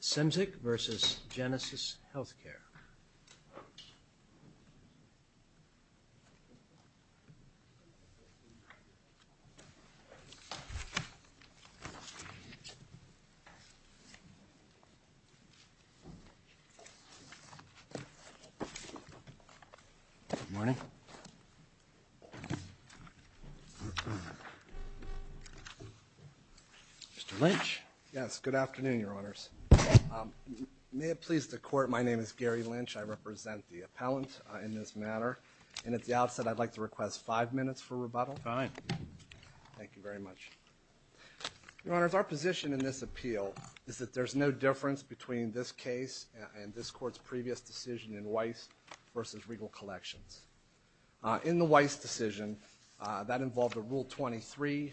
Cymczyk v. Genesis Healthcare Good morning Mr. Lynch? Yes, good afternoon, Your Honors. May it please the Court, my name is Gary Lynch, I represent the appellant in this matter, and at the outset I'd like to request five minutes for rebuttal. Fine. Thank you very much. Your Honors, our position in this appeal is that there's no difference between this case and this Court's previous decision in Weiss v. Regal Collections. In the Weiss decision, that involved a Rule 23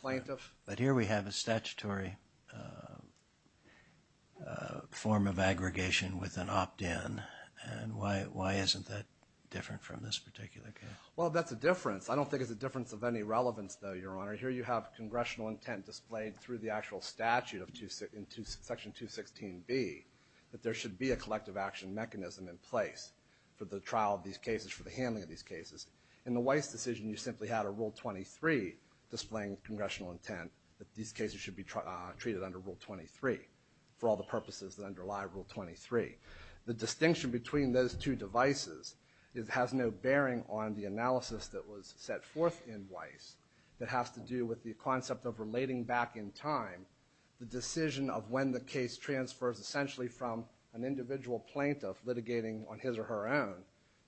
plaintiff. But here we have a statutory form of aggregation with an opt-in, and why isn't that different from this particular case? Well, that's a difference. I don't think it's a difference of any relevance, though, Your Honor. Here you have congressional intent displayed through the actual statute of Section 216B, that there should be a collective action mechanism in place for the trial of these cases, for the handling of these cases. In the Weiss decision, you simply had a Rule 23 displaying congressional intent that these cases should be treated under Rule 23, for all the purposes that underlie Rule 23. The distinction between those two devices has no bearing on the analysis that was set forth in Weiss that has to do with the concept of relating back in time the decision of when the case transfers, essentially from an individual plaintiff litigating on his or her own,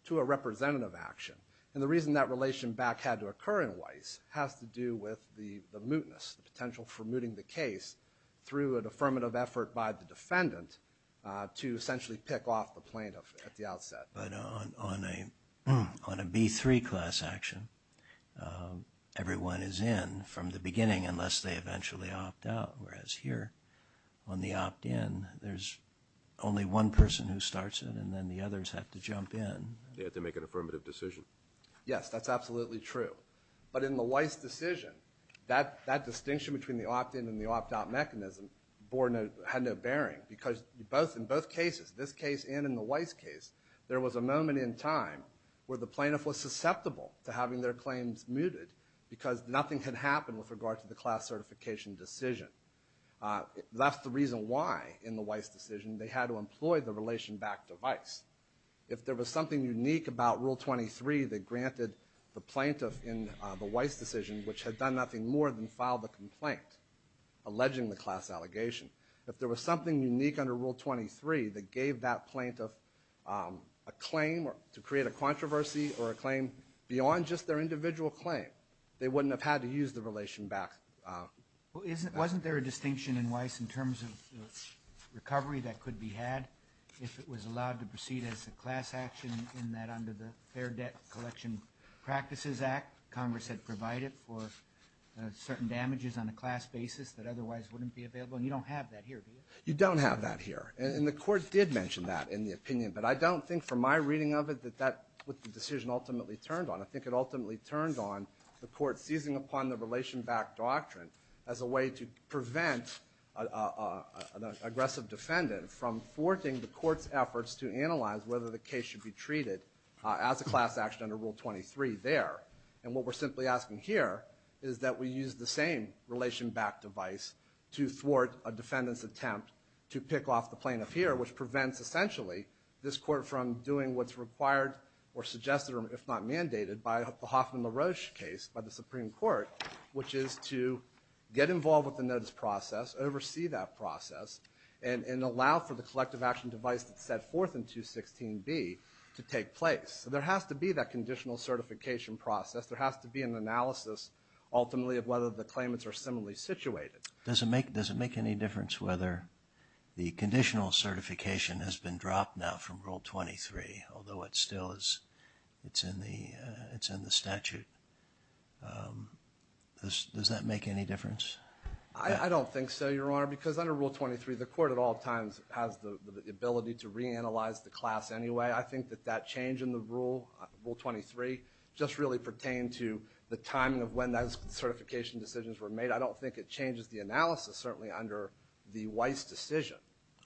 to a representative action. And the reason that relation back had to occur in Weiss has to do with the mootness, the potential for mooting the case through an affirmative effort by the defendant to essentially pick off the plaintiff at the outset. But on a B-3 class action, everyone is in from the beginning unless they eventually opt out, whereas here, on the opt-in, there's only one person who starts it, and then the others have to jump in. They have to make an affirmative decision. Yes, that's absolutely true. But in the Weiss decision, that distinction between the opt-in and the opt-out mechanism had no bearing because in both cases, this case and in the Weiss case, there was a moment in time where the plaintiff was susceptible to having their claims mooted because nothing had happened with regard to the class certification decision. That's the reason why, in the Weiss decision, they had to employ the relation back device. If there was something unique about Rule 23 that granted the plaintiff in the Weiss decision, which had done nothing more than file the complaint alleging the class allegation, if there was something unique under Rule 23 that gave that plaintiff a claim to create a controversy or a claim beyond just their individual claim, they wouldn't have had to use the relation back device. Wasn't there a distinction in Weiss in terms of recovery that could be had if it was allowed to proceed as a class action in that under the Fair Debt Collection Practices Act, Congress had provided for certain damages on a class basis that otherwise wouldn't be available? And you don't have that here, do you? You don't have that here. And the Court did mention that in the opinion, but I don't think from my reading of it that that was the decision ultimately turned on. I think it ultimately turned on the Court seizing upon the relation back doctrine as a way to prevent an aggressive defendant from thwarting the Court's efforts to analyze whether the case should be treated as a class action under Rule 23 there. And what we're simply asking here is that we use the same relation back device to thwart a defendant's attempt to pick off the plaintiff here, which prevents essentially this Court from doing what's required or suggested or if not mandated by the Hoffman-LaRoche case by the Supreme Court, which is to get involved with the notice process, oversee that process, and allow for the collective action device that's set forth in 216B to take place. So there has to be that conditional certification process. There has to be an analysis ultimately of whether the claimants are similarly situated. Does it make any difference whether the conditional certification has been dropped now from Rule 23, although it still is in the statute? Does that make any difference? I don't think so, Your Honor, because under Rule 23, the Court at all times has the ability to reanalyze the class anyway. I think that that change in Rule 23 just really pertained to the timing of when those certification decisions were made. I don't think it changes the analysis, certainly under the Weiss decision.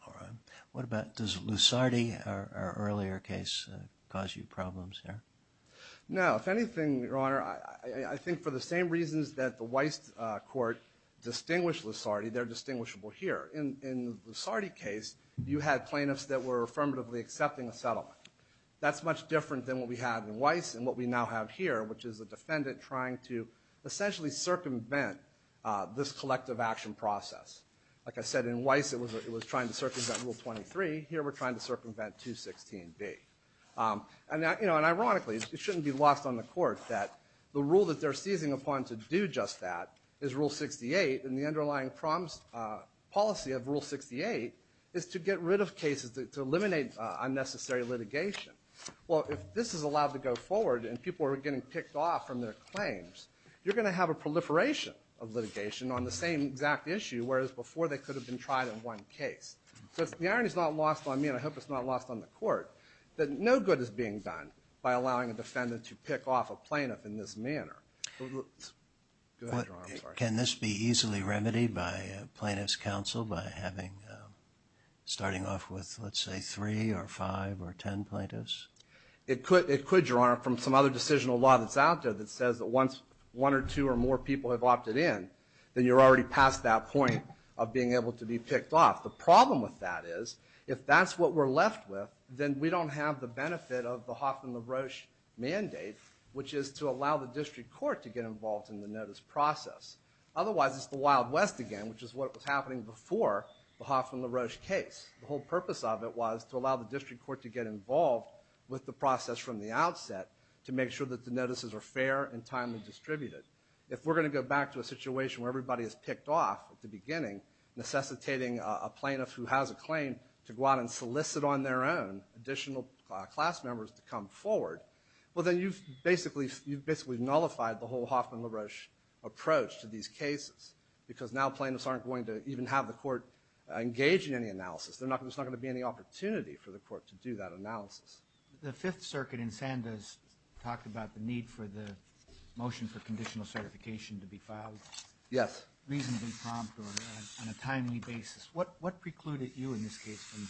All right. What about does Lusardi, our earlier case, cause you problems here? No. If anything, Your Honor, I think for the same reasons that the Weiss Court distinguished Lusardi, they're distinguishable here. In the Lusardi case, you had plaintiffs that were affirmatively accepting a settlement. That's much different than what we had in Weiss and what we now have here, which is a defendant trying to essentially circumvent this collective action process. Like I said, in Weiss it was trying to circumvent Rule 23. Here we're trying to circumvent 216B. And ironically, it shouldn't be lost on the Court that the rule that they're seizing upon to do just that is Rule 68, and the underlying policy of Rule 68 is to get rid of cases, to eliminate unnecessary litigation. Well, if this is allowed to go forward and people are getting picked off from their claims, you're going to have a proliferation of litigation on the same exact issue, whereas before they could have been tried in one case. So the irony is not lost on me, and I hope it's not lost on the Court, that no good is being done by allowing a defendant to pick off a plaintiff in this manner. Go ahead, Your Honor, I'm sorry. Can this be easily remedied by plaintiffs' counsel by starting off with, let's say, three or five or ten plaintiffs? It could, Your Honor, from some other decisional law that's out there that says that once one or two or more people have opted in, then you're already past that point of being able to be picked off. The problem with that is if that's what we're left with, then we don't have the benefit of the Hoffman LaRoche mandate, which is to allow the district court to get involved in the notice process. Otherwise, it's the Wild West again, which is what was happening before the Hoffman LaRoche case. The whole purpose of it was to allow the district court to get involved with the process from the outset to make sure that the notices are fair and timely distributed. If we're going to go back to a situation where everybody is picked off at the beginning, necessitating a plaintiff who has a claim to go out and solicit on their own additional class members to come forward, well, then you've basically nullified the whole Hoffman LaRoche approach to these cases because now plaintiffs aren't going to even have the court engage in any analysis. There's not going to be any opportunity for the court to do that analysis. The Fifth Circuit in Sandoz talked about the need for the motion for conditional certification to be filed. Yes. Reasonably prompt on a timely basis. What precluded you in this case from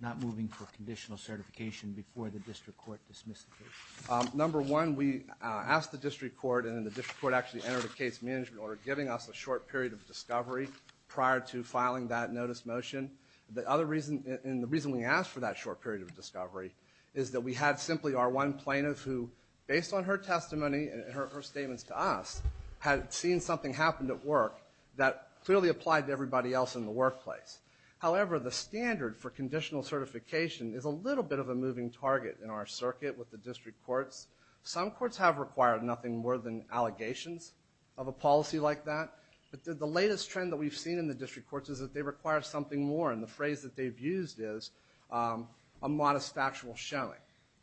not moving for conditional certification before the district court dismissed the case? Number one, we asked the district court, and the district court actually entered a case management order giving us a short period of discovery prior to filing that notice motion. The other reason, and the reason we asked for that short period of discovery, is that we had simply our one plaintiff who, based on her testimony and her statements to us, had seen something happen at work that clearly applied to everybody else in the workplace. However, the standard for conditional certification is a little bit of a moving target in our circuit with the district courts. Some courts have required nothing more than allegations of a policy like that, but the latest trend that we've seen in the district courts is that they require something more, and the phrase that they've used is a modest factual showing.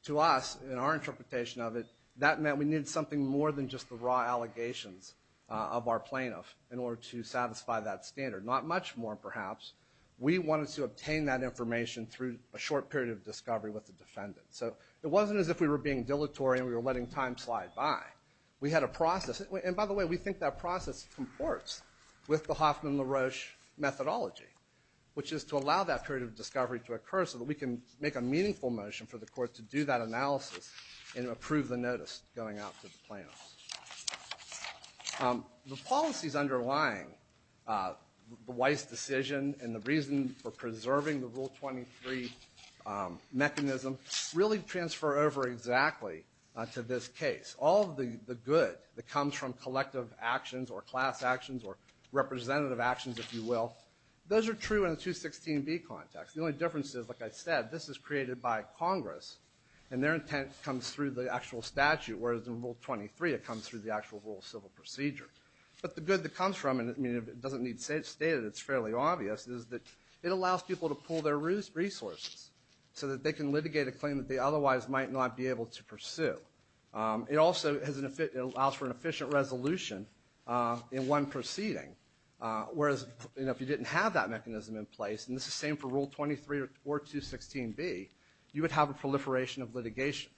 To us, in our interpretation of it, that meant we needed something more than just the raw allegations of our plaintiff in order to satisfy that standard. Not much more, perhaps. We wanted to obtain that information through a short period of discovery with the defendant. So it wasn't as if we were being dilatory and we were letting time slide by. We had a process, and by the way, we think that process comports with the Hoffman-LaRoche methodology, which is to allow that period of discovery to occur so that we can make a meaningful motion for the court to do that analysis and approve the notice going out to the plaintiffs. The policies underlying the Weiss decision and the reason for preserving the Rule 23 mechanism really transfer over exactly to this case. All of the good that comes from collective actions or class actions or representative actions, if you will, those are true in the 216B context. The only difference is, like I said, this is created by Congress, and their intent comes through the actual statute, whereas in Rule 23 it comes through the actual rule of civil procedure. But the good that comes from it, and it doesn't need to be stated, it's fairly obvious, is that it allows people to pool their resources so that they can litigate a claim that they otherwise might not be able to pursue. It also allows for an efficient resolution in one proceeding, whereas if you didn't have that mechanism in place, and this is the same for Rule 23 or 216B, you would have a proliferation of litigation.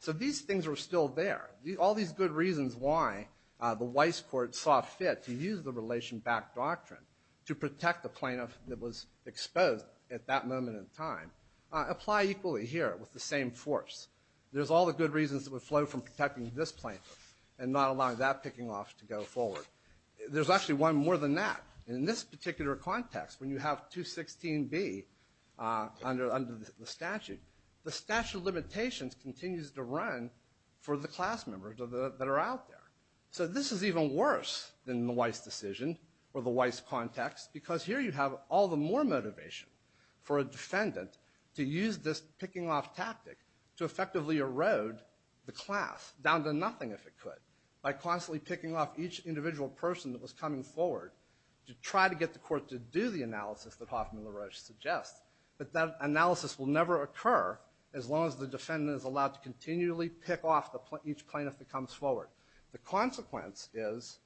So these things are still there. All these good reasons why the Weiss court saw fit to use the relation-backed doctrine to protect the plaintiff that was exposed at that moment in time apply equally here with the same force. There's all the good reasons that would flow from protecting this plaintiff and not allowing that picking off to go forward. There's actually one more than that. In this particular context, when you have 216B under the statute, the statute of limitations continues to run for the class members that are out there. So this is even worse than the Weiss decision or the Weiss context, because here you have all the more motivation for a defendant to use this picking off tactic to effectively erode the class down to nothing, if it could, by constantly picking off each individual person that was coming forward to try to get the court to do the analysis that Hoffman and LaRoche suggest. But that analysis will never occur as long as the defendant is allowed to continually pick off each plaintiff that comes forward. The consequence is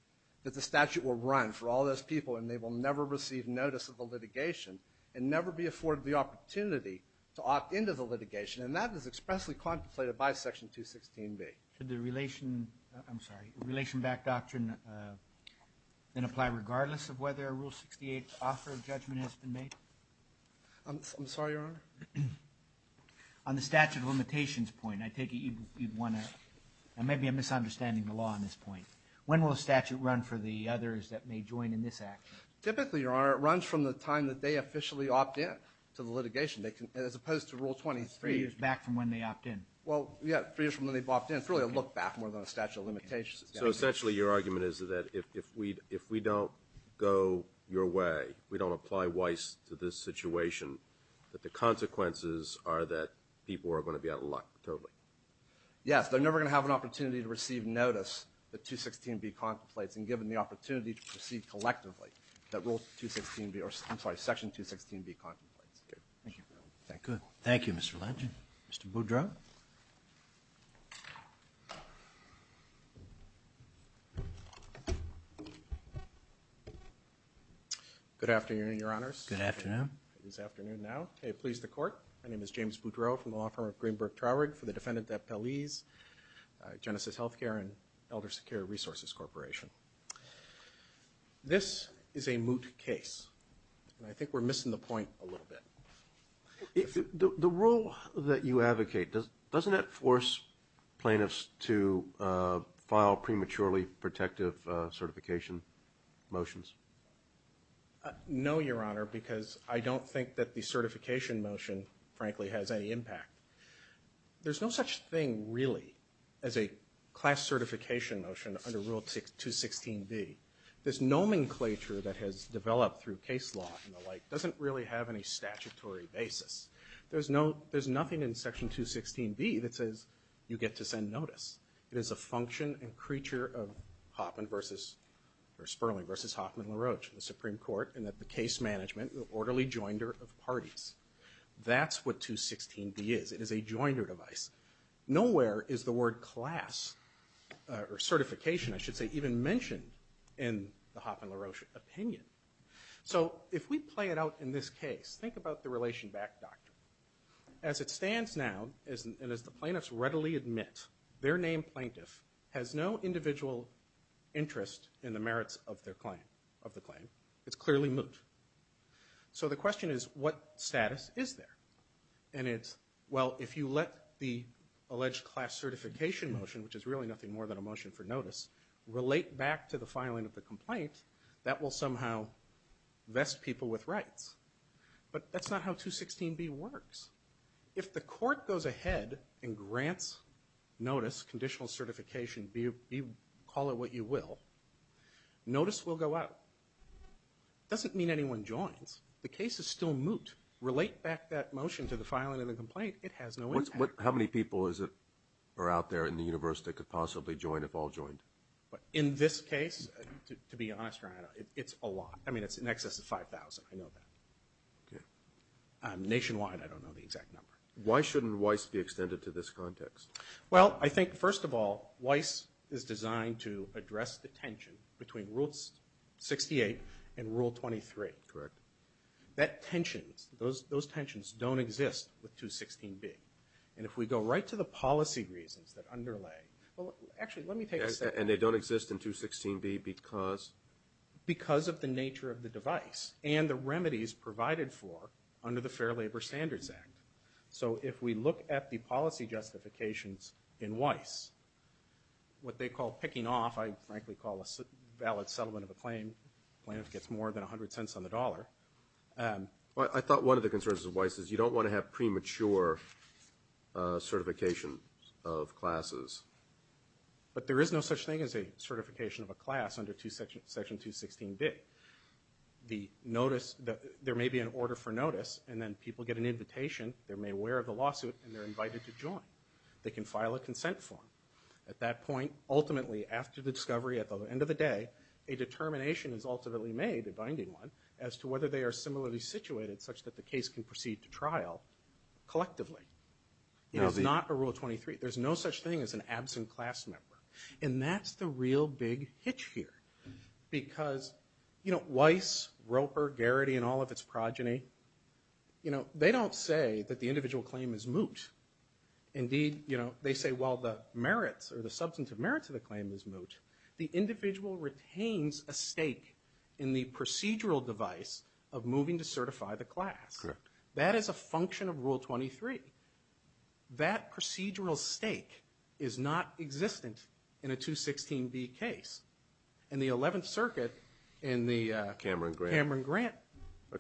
that the statute will run for all those people, and they will never receive notice of the litigation and never be afforded the opportunity to opt into the litigation. And that is expressly contemplated by Section 216B. Should the relation – I'm sorry – relation-backed doctrine then apply regardless of whether a Rule 68 offer of judgment has been made? I'm sorry, Your Honor? On the statute of limitations point, I take it you'd want to – When will a statute run for the others that may join in this action? Typically, Your Honor, it runs from the time that they officially opt in to the litigation, as opposed to Rule 23. Three years back from when they opt in. Well, yeah, three years from when they opt in. It's really a look back more than a statute of limitations. So essentially your argument is that if we don't go your way, we don't apply Weiss to this situation, that the consequences are that people are going to be out of luck, totally? Yes, they're never going to have an opportunity to receive notice that 216B contemplates and given the opportunity to proceed collectively that Rule 216B – I'm sorry, Section 216B contemplates. Thank you. Good. Thank you, Mr. Legend. Mr. Boudreaux? Good afternoon, Your Honors. Good afternoon. It is afternoon now. May it please the Court, my name is James Boudreaux from the law firm of Greenberg Traurig for the defendant at Pelez, Genesis Healthcare and Elder Secure Resources Corporation. This is a moot case, and I think we're missing the point a little bit. The rule that you advocate, doesn't that force plaintiffs to file prematurely protective certification motions? No, Your Honor, because I don't think that the certification motion, frankly, has any impact. There's no such thing, really, as a class certification motion under Rule 216B. This nomenclature that has developed through case law and the like doesn't really have any statutory basis. There's nothing in Section 216B that says you get to send notice. It is a function and creature of Sperling v. Hoffman-LaRoche, the Supreme Court, in that the case management, the orderly joinder of parties. That's what 216B is. It is a joinder device. Nowhere is the word class or certification, I should say, even mentioned in the Hoffman-LaRoche opinion. So if we play it out in this case, think about the relation back doctrine. As it stands now, and as the plaintiffs readily admit, their named plaintiff has no individual interest in the merits of the claim. It's clearly moot. So the question is, what status is there? And it's, well, if you let the alleged class certification motion, which is really nothing more than a motion for notice, relate back to the filing of the complaint, that will somehow vest people with rights. But that's not how 216B works. If the court goes ahead and grants notice, conditional certification, call it what you will, notice will go out. It doesn't mean anyone joins. The case is still moot. Relate back that motion to the filing of the complaint. It has no impact. How many people are out there in the universe that could possibly join, if all joined? In this case, to be honest, it's a lot. I mean, it's in excess of 5,000. I know that. Nationwide, I don't know the exact number. Why shouldn't Weiss be extended to this context? Well, I think, first of all, Weiss is designed to address the tension between Rule 68 and Rule 23. Correct. Those tensions don't exist with 216B. And if we go right to the policy reasons that underlay, well, actually, let me take a second. And they don't exist in 216B because? Because of the nature of the device and the remedies provided for under the Fair Labor Standards Act. So if we look at the policy justifications in Weiss, what they call picking off, I frankly call a valid settlement of a claim, plaintiff gets more than 100 cents on the dollar. I thought one of the concerns of Weiss is you don't want to have premature certification of classes. But there is no such thing as a certification of a class under Section 216B. There may be an order for notice, and then people get an invitation, they're made aware of the lawsuit, and they're invited to join. They can file a consent form. At that point, ultimately, after the discovery, at the end of the day, a determination is ultimately made, a binding one, as to whether they are similarly situated such that the case can proceed to trial collectively. It is not a Rule 23. There's no such thing as an absent class member. And that's the real big hitch here. Because Weiss, Roper, Garrity, and all of its progeny, they don't say that the individual claim is moot. Indeed, they say while the merits, or the substantive merits of the claim is moot, the individual retains a stake in the procedural device of moving to certify the class. That is a function of Rule 23. That procedural stake is not existent in a 216B case. In the 11th Circuit, in the Cameron Grant case.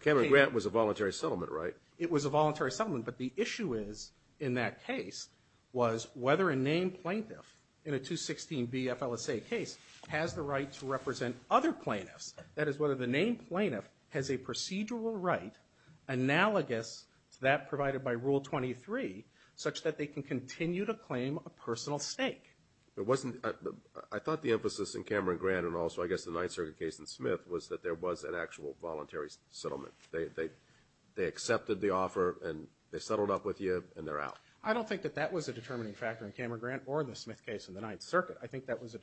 Cameron Grant was a voluntary settlement, right? It was a voluntary settlement, but the issue is, in that case, was whether a named plaintiff in a 216B FLSA case has the right to represent other plaintiffs. That is, whether the named plaintiff has a procedural right analogous to that provided by Rule 23, such that they can continue to claim a personal stake. I thought the emphasis in Cameron Grant, and also I guess the 9th Circuit case in Smith, was that there was an actual voluntary settlement. They accepted the offer, and they settled up with you, and they're out. I don't think that that was a determining factor in Cameron Grant or the Smith case in the 9th Circuit. I think that was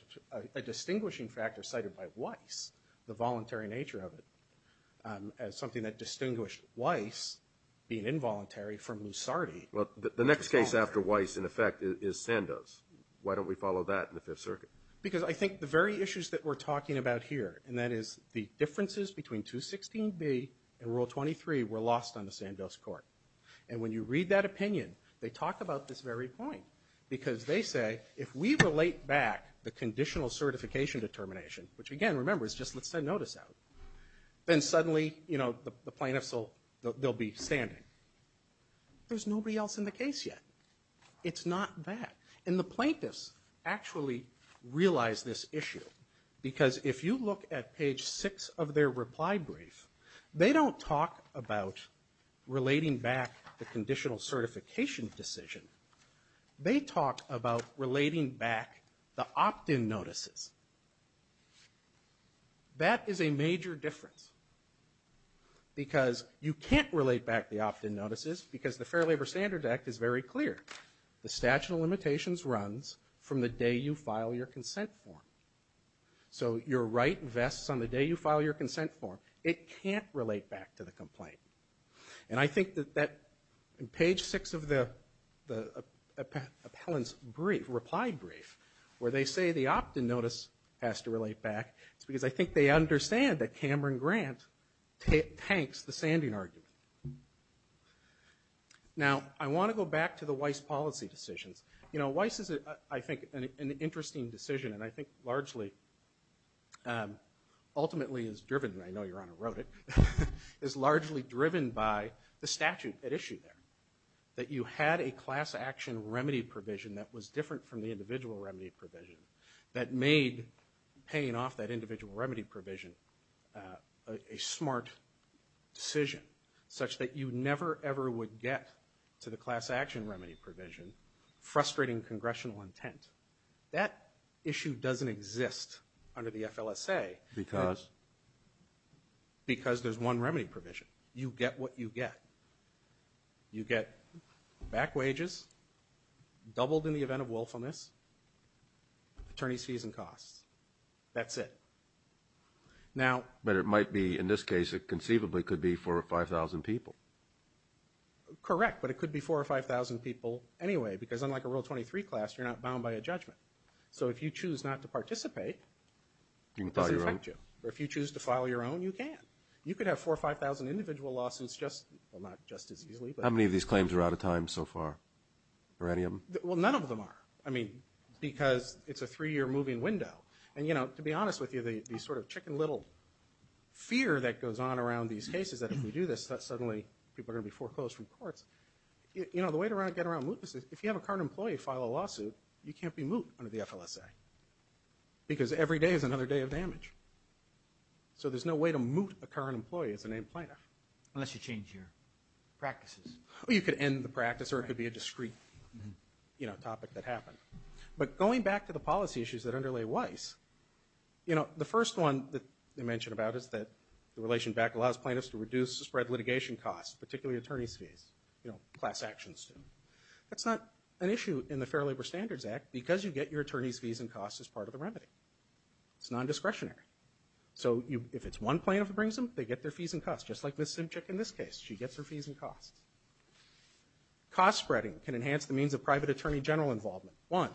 a distinguishing factor cited by Weiss, the voluntary nature of it, as something that distinguished Weiss, being involuntary, from Lusardi. The next case after Weiss, in effect, is Sandoz. Why don't we follow that in the 5th Circuit? Because I think the very issues that we're talking about here, and that is the differences between 216B and Rule 23 were lost on the Sandoz court. And when you read that opinion, they talk about this very point, because they say, if we relate back the conditional certification determination, which again, remember, is just let's send notice out, then suddenly, you know, the plaintiffs will be standing. There's nobody else in the case yet. It's not that. And the plaintiffs actually realize this issue, because if you look at page 6 of their reply brief, they don't talk about relating back the conditional certification decision. They talk about relating back the opt-in notices. That is a major difference, because you can't relate back the opt-in notices, because the Fair Labor Standards Act is very clear. The statute of limitations runs from the day you file your consent form. So your right vests on the day you file your consent form. It can't relate back to the complaint. And I think that in page 6 of the appellant's reply brief, where they say the opt-in notice has to relate back, it's because I think they understand that Cameron Grant tanks the sanding argument. Now, I want to go back to the Weiss policy decisions. You know, Weiss is, I think, an interesting decision, and I think largely, ultimately is driven, and I know Your Honor wrote it, is largely driven by the statute at issue there, that you had a class action remedy provision that was different from the individual remedy provision that made paying off that individual remedy provision a smart decision, such that you never ever would get to the class action remedy provision, frustrating congressional intent. That issue doesn't exist under the FLSA. Because? Because there's one remedy provision. You get what you get. You get back wages, doubled in the event of willfulness, attorney's fees and costs. That's it. But it might be, in this case, it conceivably could be 4,000 or 5,000 people. Correct, but it could be 4,000 or 5,000 people anyway, because unlike a Rule 23 class, you're not bound by a judgment. So if you choose not to participate, it doesn't affect you. Or if you choose to file your own, you can. You could have 4,000 or 5,000 individual lawsuits just, well, not just as easily. How many of these claims are out of time so far, or any of them? Well, none of them are. I mean, because it's a three-year moving window. And, you know, to be honest with you, the sort of chicken little fear that goes on around these cases, that if we do this, suddenly people are going to be foreclosed from courts. You know, the way to get around mootness is, if you have a current employee file a lawsuit, you can't be moot under the FLSA. Because every day is another day of damage. So there's no way to moot a current employee as a named plaintiff. Unless you change your practices. Well, you could end the practice, or it could be a discreet, you know, topic that happened. But going back to the policy issues that underlay Weiss, you know, the first one that they mention about is that the relation back allows plaintiffs to reduce spread litigation costs, particularly attorney's fees. You know, class actions. That's not an issue in the Fair Labor Standards Act, because you get your attorney's fees and costs as part of the remedy. It's non-discretionary. So if it's one plaintiff who brings them, they get their fees and costs. Just like Ms. Simchick in this case. She gets her fees and costs. Cost spreading can enhance the means of private attorney general involvement. One,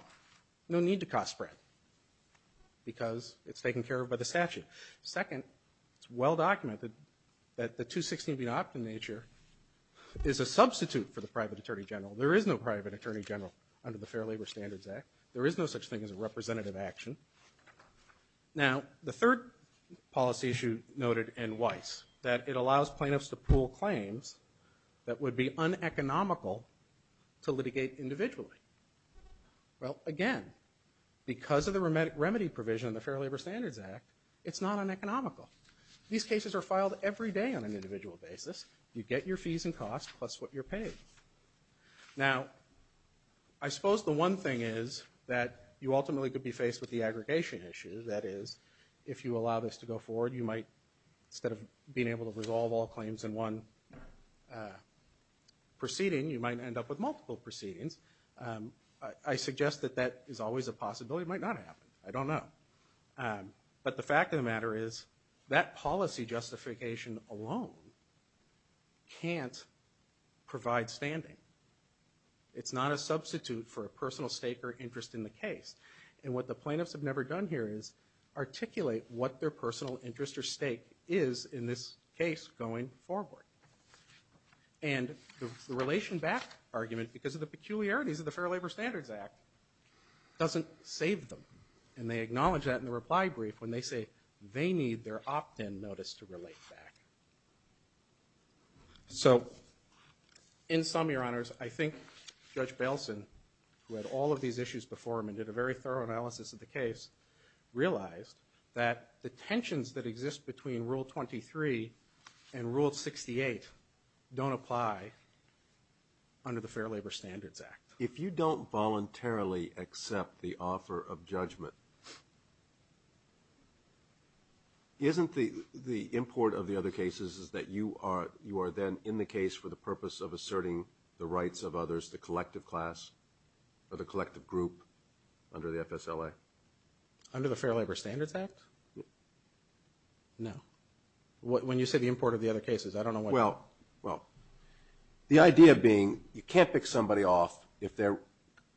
no need to cost spread. Because it's taken care of by the statute. Second, it's well documented that the 216 being opt in nature is a substitute for the private attorney general. There is no private attorney general under the Fair Labor Standards Act. There is no such thing as a representative action. Now, the third policy issue noted in Weiss, that it allows plaintiffs to pool claims that would be uneconomical to litigate individually. Well, again, because of the remedy provision in the Fair Labor Standards Act, it's not uneconomical. These cases are filed every day on an individual basis. You get your fees and costs plus what you're paid. Now, I suppose the one thing is that you ultimately could be faced with the aggregation issue. That is, if you allow this to go forward, you might, instead of being able to resolve all claims in one proceeding, you might end up with multiple proceedings. I suggest that that is always a possibility. It might not happen. I don't know. But the fact of the matter is that policy justification alone can't provide standing. It's not a substitute for a personal stake or interest in the case. And what the plaintiffs have never done here is articulate what their personal interest or stake is in this case going forward. And the relation back argument, because of the peculiarities of the Fair Labor Standards Act, doesn't save them. And they acknowledge that in the reply brief when they say they need their opt-in notice to relate back. So in sum, Your Honors, I think Judge Bailson, who had all of these issues before him and did a very thorough analysis of the case, realized that the tensions that exist between Rule 23 and Rule 68 don't apply under the Fair Labor Standards Act. If you don't voluntarily accept the offer of judgment, isn't the import of the other cases is that you are then in the case for the purpose of asserting the rights of others, the collective class or the collective group under the FSLA? Under the Fair Labor Standards Act? No. When you say the import of the other cases, I don't know what you mean. Well, the idea being you can't pick somebody off if they're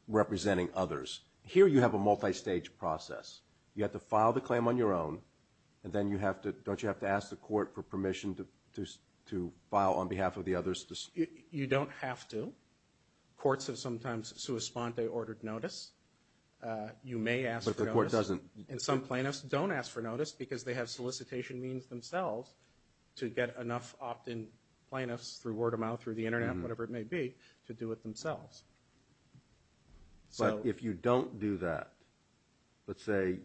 representing others. Here you have a multistage process. You have to file the claim on your own, and then don't you have to ask the court for permission to file on behalf of the others? You don't have to. Courts have sometimes sua sponte ordered notice. You may ask for notice. And some plaintiffs don't ask for notice because they have solicitation means themselves to get enough opt-in plaintiffs through word of mouth, through the Internet, whatever it may be, to do it themselves. But if you don't do that, let's say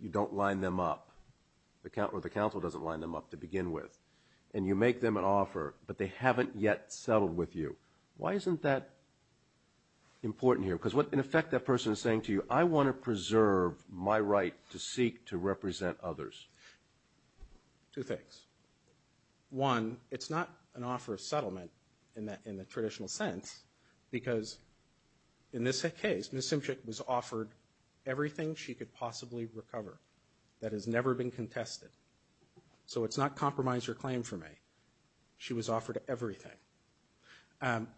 you don't line them up, or the counsel doesn't line them up to begin with, and you make them an offer but they haven't yet settled with you, why isn't that important here? Because in effect that person is saying to you, I want to preserve my right to seek to represent others. Two things. One, it's not an offer of settlement in the traditional sense because in this case, Ms. Simchick was offered everything she could possibly recover that has never been contested. So it's not compromise your claim for me. She was offered everything.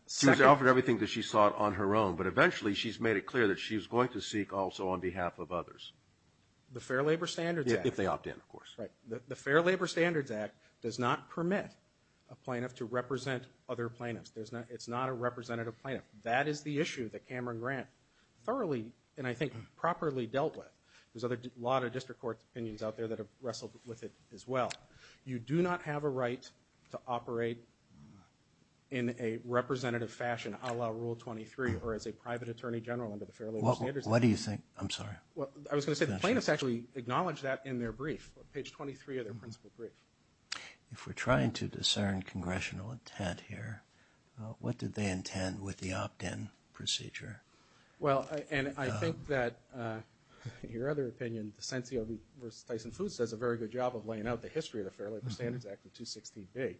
She was offered everything that she sought on her own, but eventually she's made it clear that she's going to seek also on behalf of others. The Fair Labor Standards Act. If they opt-in, of course. The Fair Labor Standards Act does not permit a plaintiff to represent other plaintiffs. It's not a representative plaintiff. That is the issue that Cameron Grant thoroughly and I think properly dealt with. There's a lot of district court opinions out there that have wrestled with it as well. You do not have a right to operate in a representative fashion a la Rule 23 or as a private attorney general under the Fair Labor Standards Act. What do you think? I'm sorry. I was going to say the plaintiffs actually acknowledge that in their brief. Page 23 of their principal brief. If we're trying to discern congressional intent here, what did they intend with the opt-in procedure? Well, and I think that in your other opinion, Desencio v. Tyson Foods does a very good job of laying out the history of the Fair Labor Standards Act, the 216B.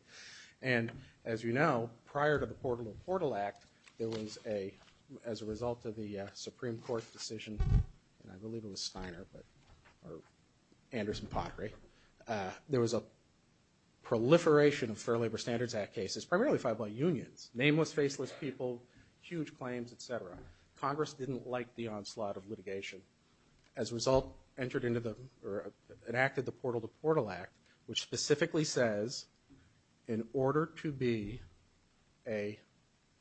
And as you know, prior to the Portal to Portal Act, there was a, as a result of the Supreme Court's decision, and I believe it was Steiner or Anderson Pottery, there was a proliferation of Fair Labor Standards Act cases primarily filed by unions. Nameless, faceless people, huge claims, et cetera. Congress didn't like the onslaught of litigation. As a result, entered into the or enacted the Portal to Portal Act, which specifically says in order to be a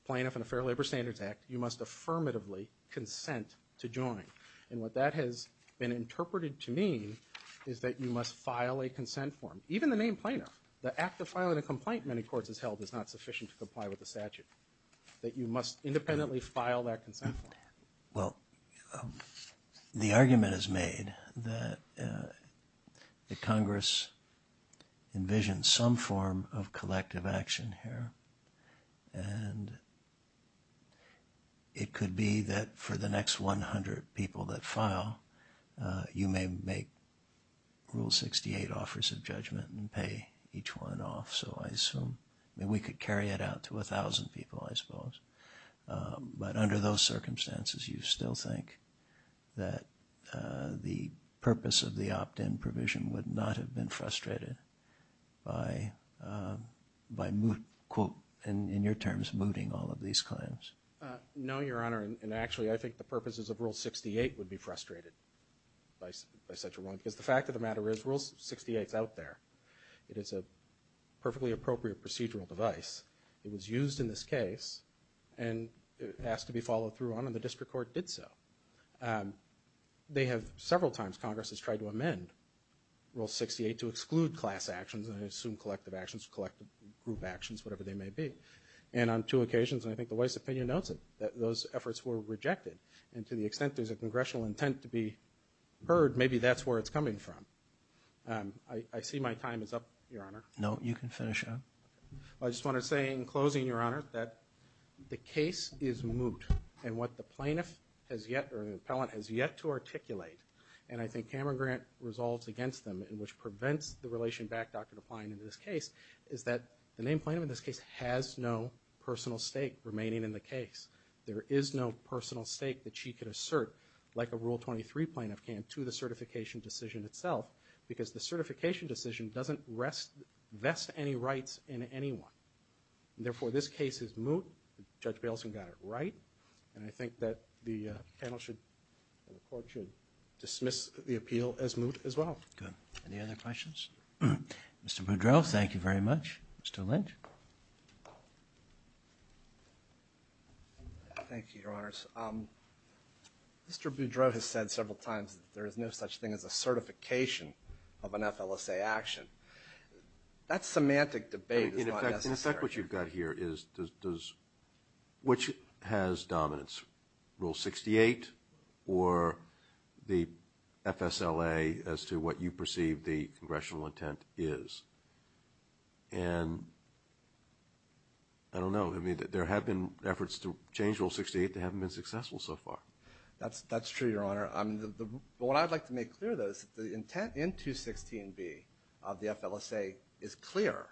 plaintiff in a Fair Labor Standards Act, you must affirmatively consent to join. And what that has been interpreted to mean is that you must file a consent form. Even the name plaintiff, the act of filing a complaint in many courts as held, is not sufficient to comply with the statute, that you must independently file that consent form. Well, the argument is made that Congress envisions some form of collective action here. And it could be that for the next 100 people that file, you may make Rule 68 offers of judgment and pay each one off. So I assume, we could carry it out to 1,000 people, I suppose. But under those circumstances, you still think that the purpose of the opt-in provision would not have been frustrated by, quote, in your terms, mooting all of these claims? No, Your Honor. And actually, I think the purposes of Rule 68 would be frustrated by such a rule. Because the fact of the matter is, Rule 68 is out there. It is a perfectly appropriate procedural device. It was used in this case and asked to be followed through on, and the district court did so. They have several times, Congress has tried to amend Rule 68 to exclude class actions and assume collective actions, collective group actions, whatever they may be. And on two occasions, and I think the White's opinion notes it, that those efforts were rejected. And to the extent there's a congressional intent to be heard, maybe that's where it's coming from. I see my time is up, Your Honor. No, you can finish up. I just want to say in closing, Your Honor, that the case is moot. And what the plaintiff has yet, or the appellant, has yet to articulate, and I think Cameron Grant resolves against them, and which prevents the relation back, Dr. DePline, in this case, is that the named plaintiff in this case has no personal stake remaining in the case. There is no personal stake that she could assert, like a Rule 23 plaintiff can, to the certification decision itself. Because the certification decision doesn't rest, vest any rights in anyone. Therefore, this case is moot. Judge Balesen got it right. And I think that the panel should, and the court should dismiss the appeal as moot as well. Good. Any other questions? Mr. Boudreau, thank you very much. Mr. Lynch. Thank you, Your Honors. Mr. Boudreau has said several times that there is no such thing as a certification of an FLSA action. That semantic debate is not necessary. In effect, what you've got here is, which has dominance, Rule 68 or the FSLA as to what you perceive the congressional intent is? And I don't know. I mean, there have been efforts to change Rule 68 that haven't been successful so far. That's true, Your Honor. But what I'd like to make clear, though, is that the intent in 216B of the FLSA is clear.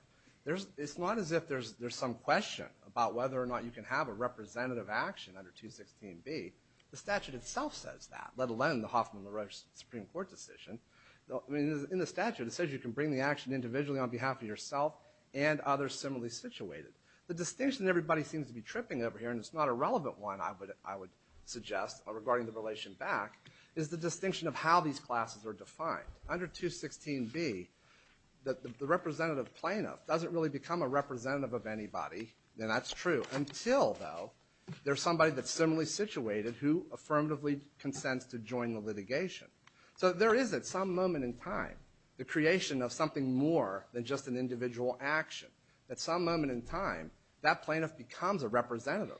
It's not as if there's some question about whether or not you can have a representative action under 216B. The statute itself says that, let alone the Hoffman-LaRoche Supreme Court decision. I mean, in the statute it says you can bring the action individually on behalf of yourself and others similarly situated. The distinction everybody seems to be tripping over here, and it's not a relevant one, I would suggest, regarding the relation back, is the distinction of how these classes are defined. Under 216B, the representative plaintiff doesn't really become a representative of anybody, and that's true, until, though, there's somebody that's similarly situated who affirmatively consents to join the litigation. So there is, at some moment in time, the creation of something more than just an individual action. At some moment in time, that plaintiff becomes a representative.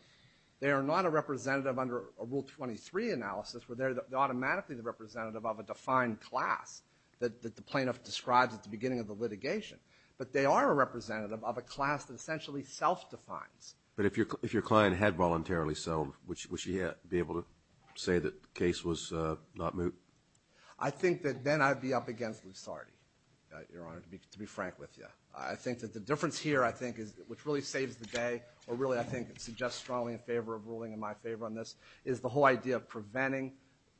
They are not a representative under a Rule 23 analysis, where they're automatically the representative of a defined class that the plaintiff describes at the beginning of the litigation. But they are a representative of a class that essentially self-defines. But if your client had voluntarily sold, would she be able to say that the case was not moot? I think that then I'd be up against Lusardi, Your Honor, to be frank with you. I think that the difference here, I think, which really saves the day, or really, I think, suggests strongly in favor of ruling in my favor on this, is the whole idea of preventing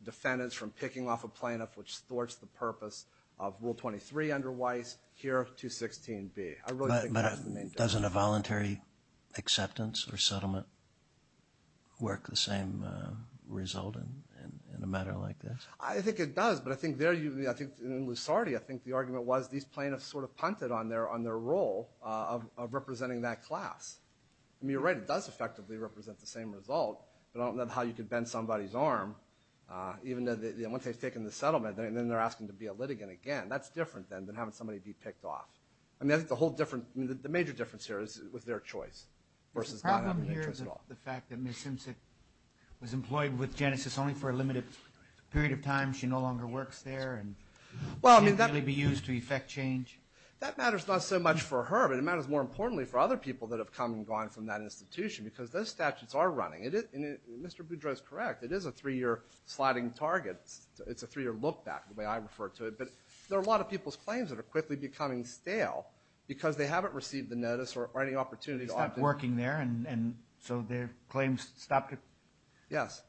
defendants from picking off a plaintiff which thwarts the purpose of Rule 23 under Weiss, here, 216B. I really think that's the main difference. But doesn't a voluntary acceptance or settlement work the same result in a matter like this? I think it does, but I think there, in Lusardi, I think the argument was these plaintiffs sort of punted on their role of representing that class. I mean, you're right, it does effectively represent the same result, but I don't know how you could bend somebody's arm, even though once they've taken the settlement, then they're asking to be a litigant again. That's different, then, than having somebody be picked off. I mean, I think the whole difference, the major difference here is with their choice versus not having any choice at all. The problem here is the fact that Ms. Simpson was employed with Genesis only for a limited period of time. She no longer works there. She can't really be used to effect change. That matters not so much for her, but it matters more importantly for other people that have come and gone from that institution, because those statutes are running. Mr. Boudreau is correct. It is a three-year sliding target. It's a three-year look back, the way I refer to it. But there are a lot of people's claims that are quickly becoming stale because they haven't received the notice or any opportunity to opt in. They stopped working there, and so their claims stopped. Yes.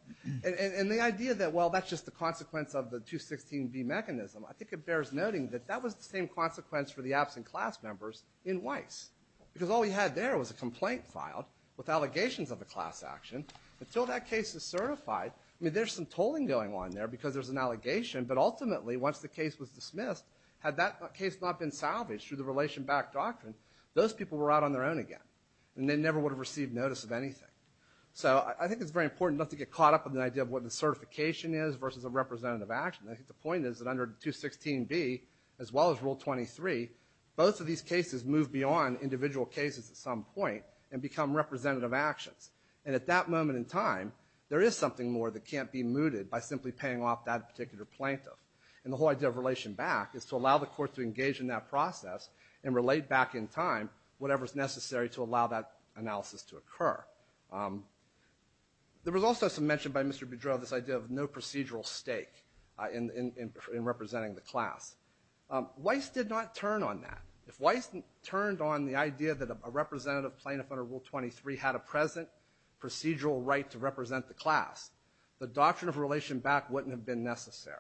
And the idea that, well, that's just the consequence of the 216B mechanism, I think it bears noting that that was the same consequence for the absent class members in Weiss, because all we had there was a complaint filed with allegations of a class action. Until that case is certified, I mean, there's some tolling going on there because there's an allegation, but ultimately, once the case was dismissed, had that case not been salvaged through the relation-backed doctrine, those people were out on their own again, and they never would have received notice of anything. So I think it's very important not to get caught up in the idea of what the certification is versus a representative action. I think the point is that under 216B, as well as Rule 23, both of these cases move beyond individual cases at some point and become representative actions. And at that moment in time, there is something more that can't be mooted by simply paying off that particular plaintiff. And the whole idea of relation-back is to allow the court to engage in that process and relate back in time whatever is necessary to allow that analysis to occur. There was also some mention by Mr. Boudreau of this idea of no procedural stake in representing the class. Weiss did not turn on that. If Weiss turned on the idea that a representative plaintiff under Rule 23 had a present procedural right to represent the class, the doctrine of relation-back wouldn't have been necessary.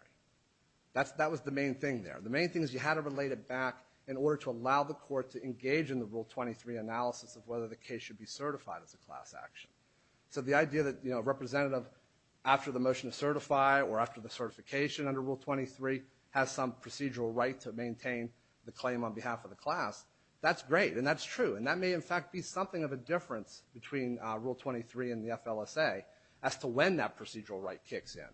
That was the main thing there. The main thing is you had to relate it back in order to allow the court to engage in the Rule 23 analysis of whether the case should be certified as a class action. So the idea that a representative, after the motion to certify or after the certification under Rule 23, has some procedural right to maintain the claim on behalf of the class, that's great and that's true. And that may, in fact, be something of a difference between Rule 23 and the FLSA as to when that procedural right kicks in.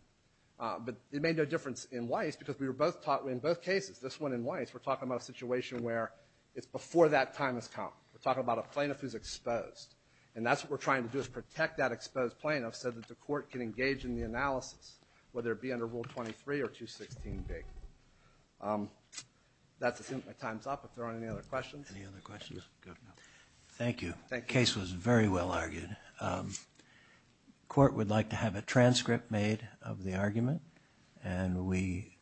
But it made no difference in Weiss because we were both taught, in both cases, this one and Weiss, we're talking about a situation where it's before that time has come. We're talking about a plaintiff who's exposed. And that's what we're trying to do is protect that exposed plaintiff so that the court can engage in the analysis, whether it be under Rule 23 or 216B. That's it. My time's up. If there aren't any other questions. Any other questions? Good. Thank you. The case was very well argued. The court would like to have a transcript made of the argument. And we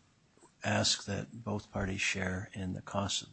ask that both parties share in the cost of the argument.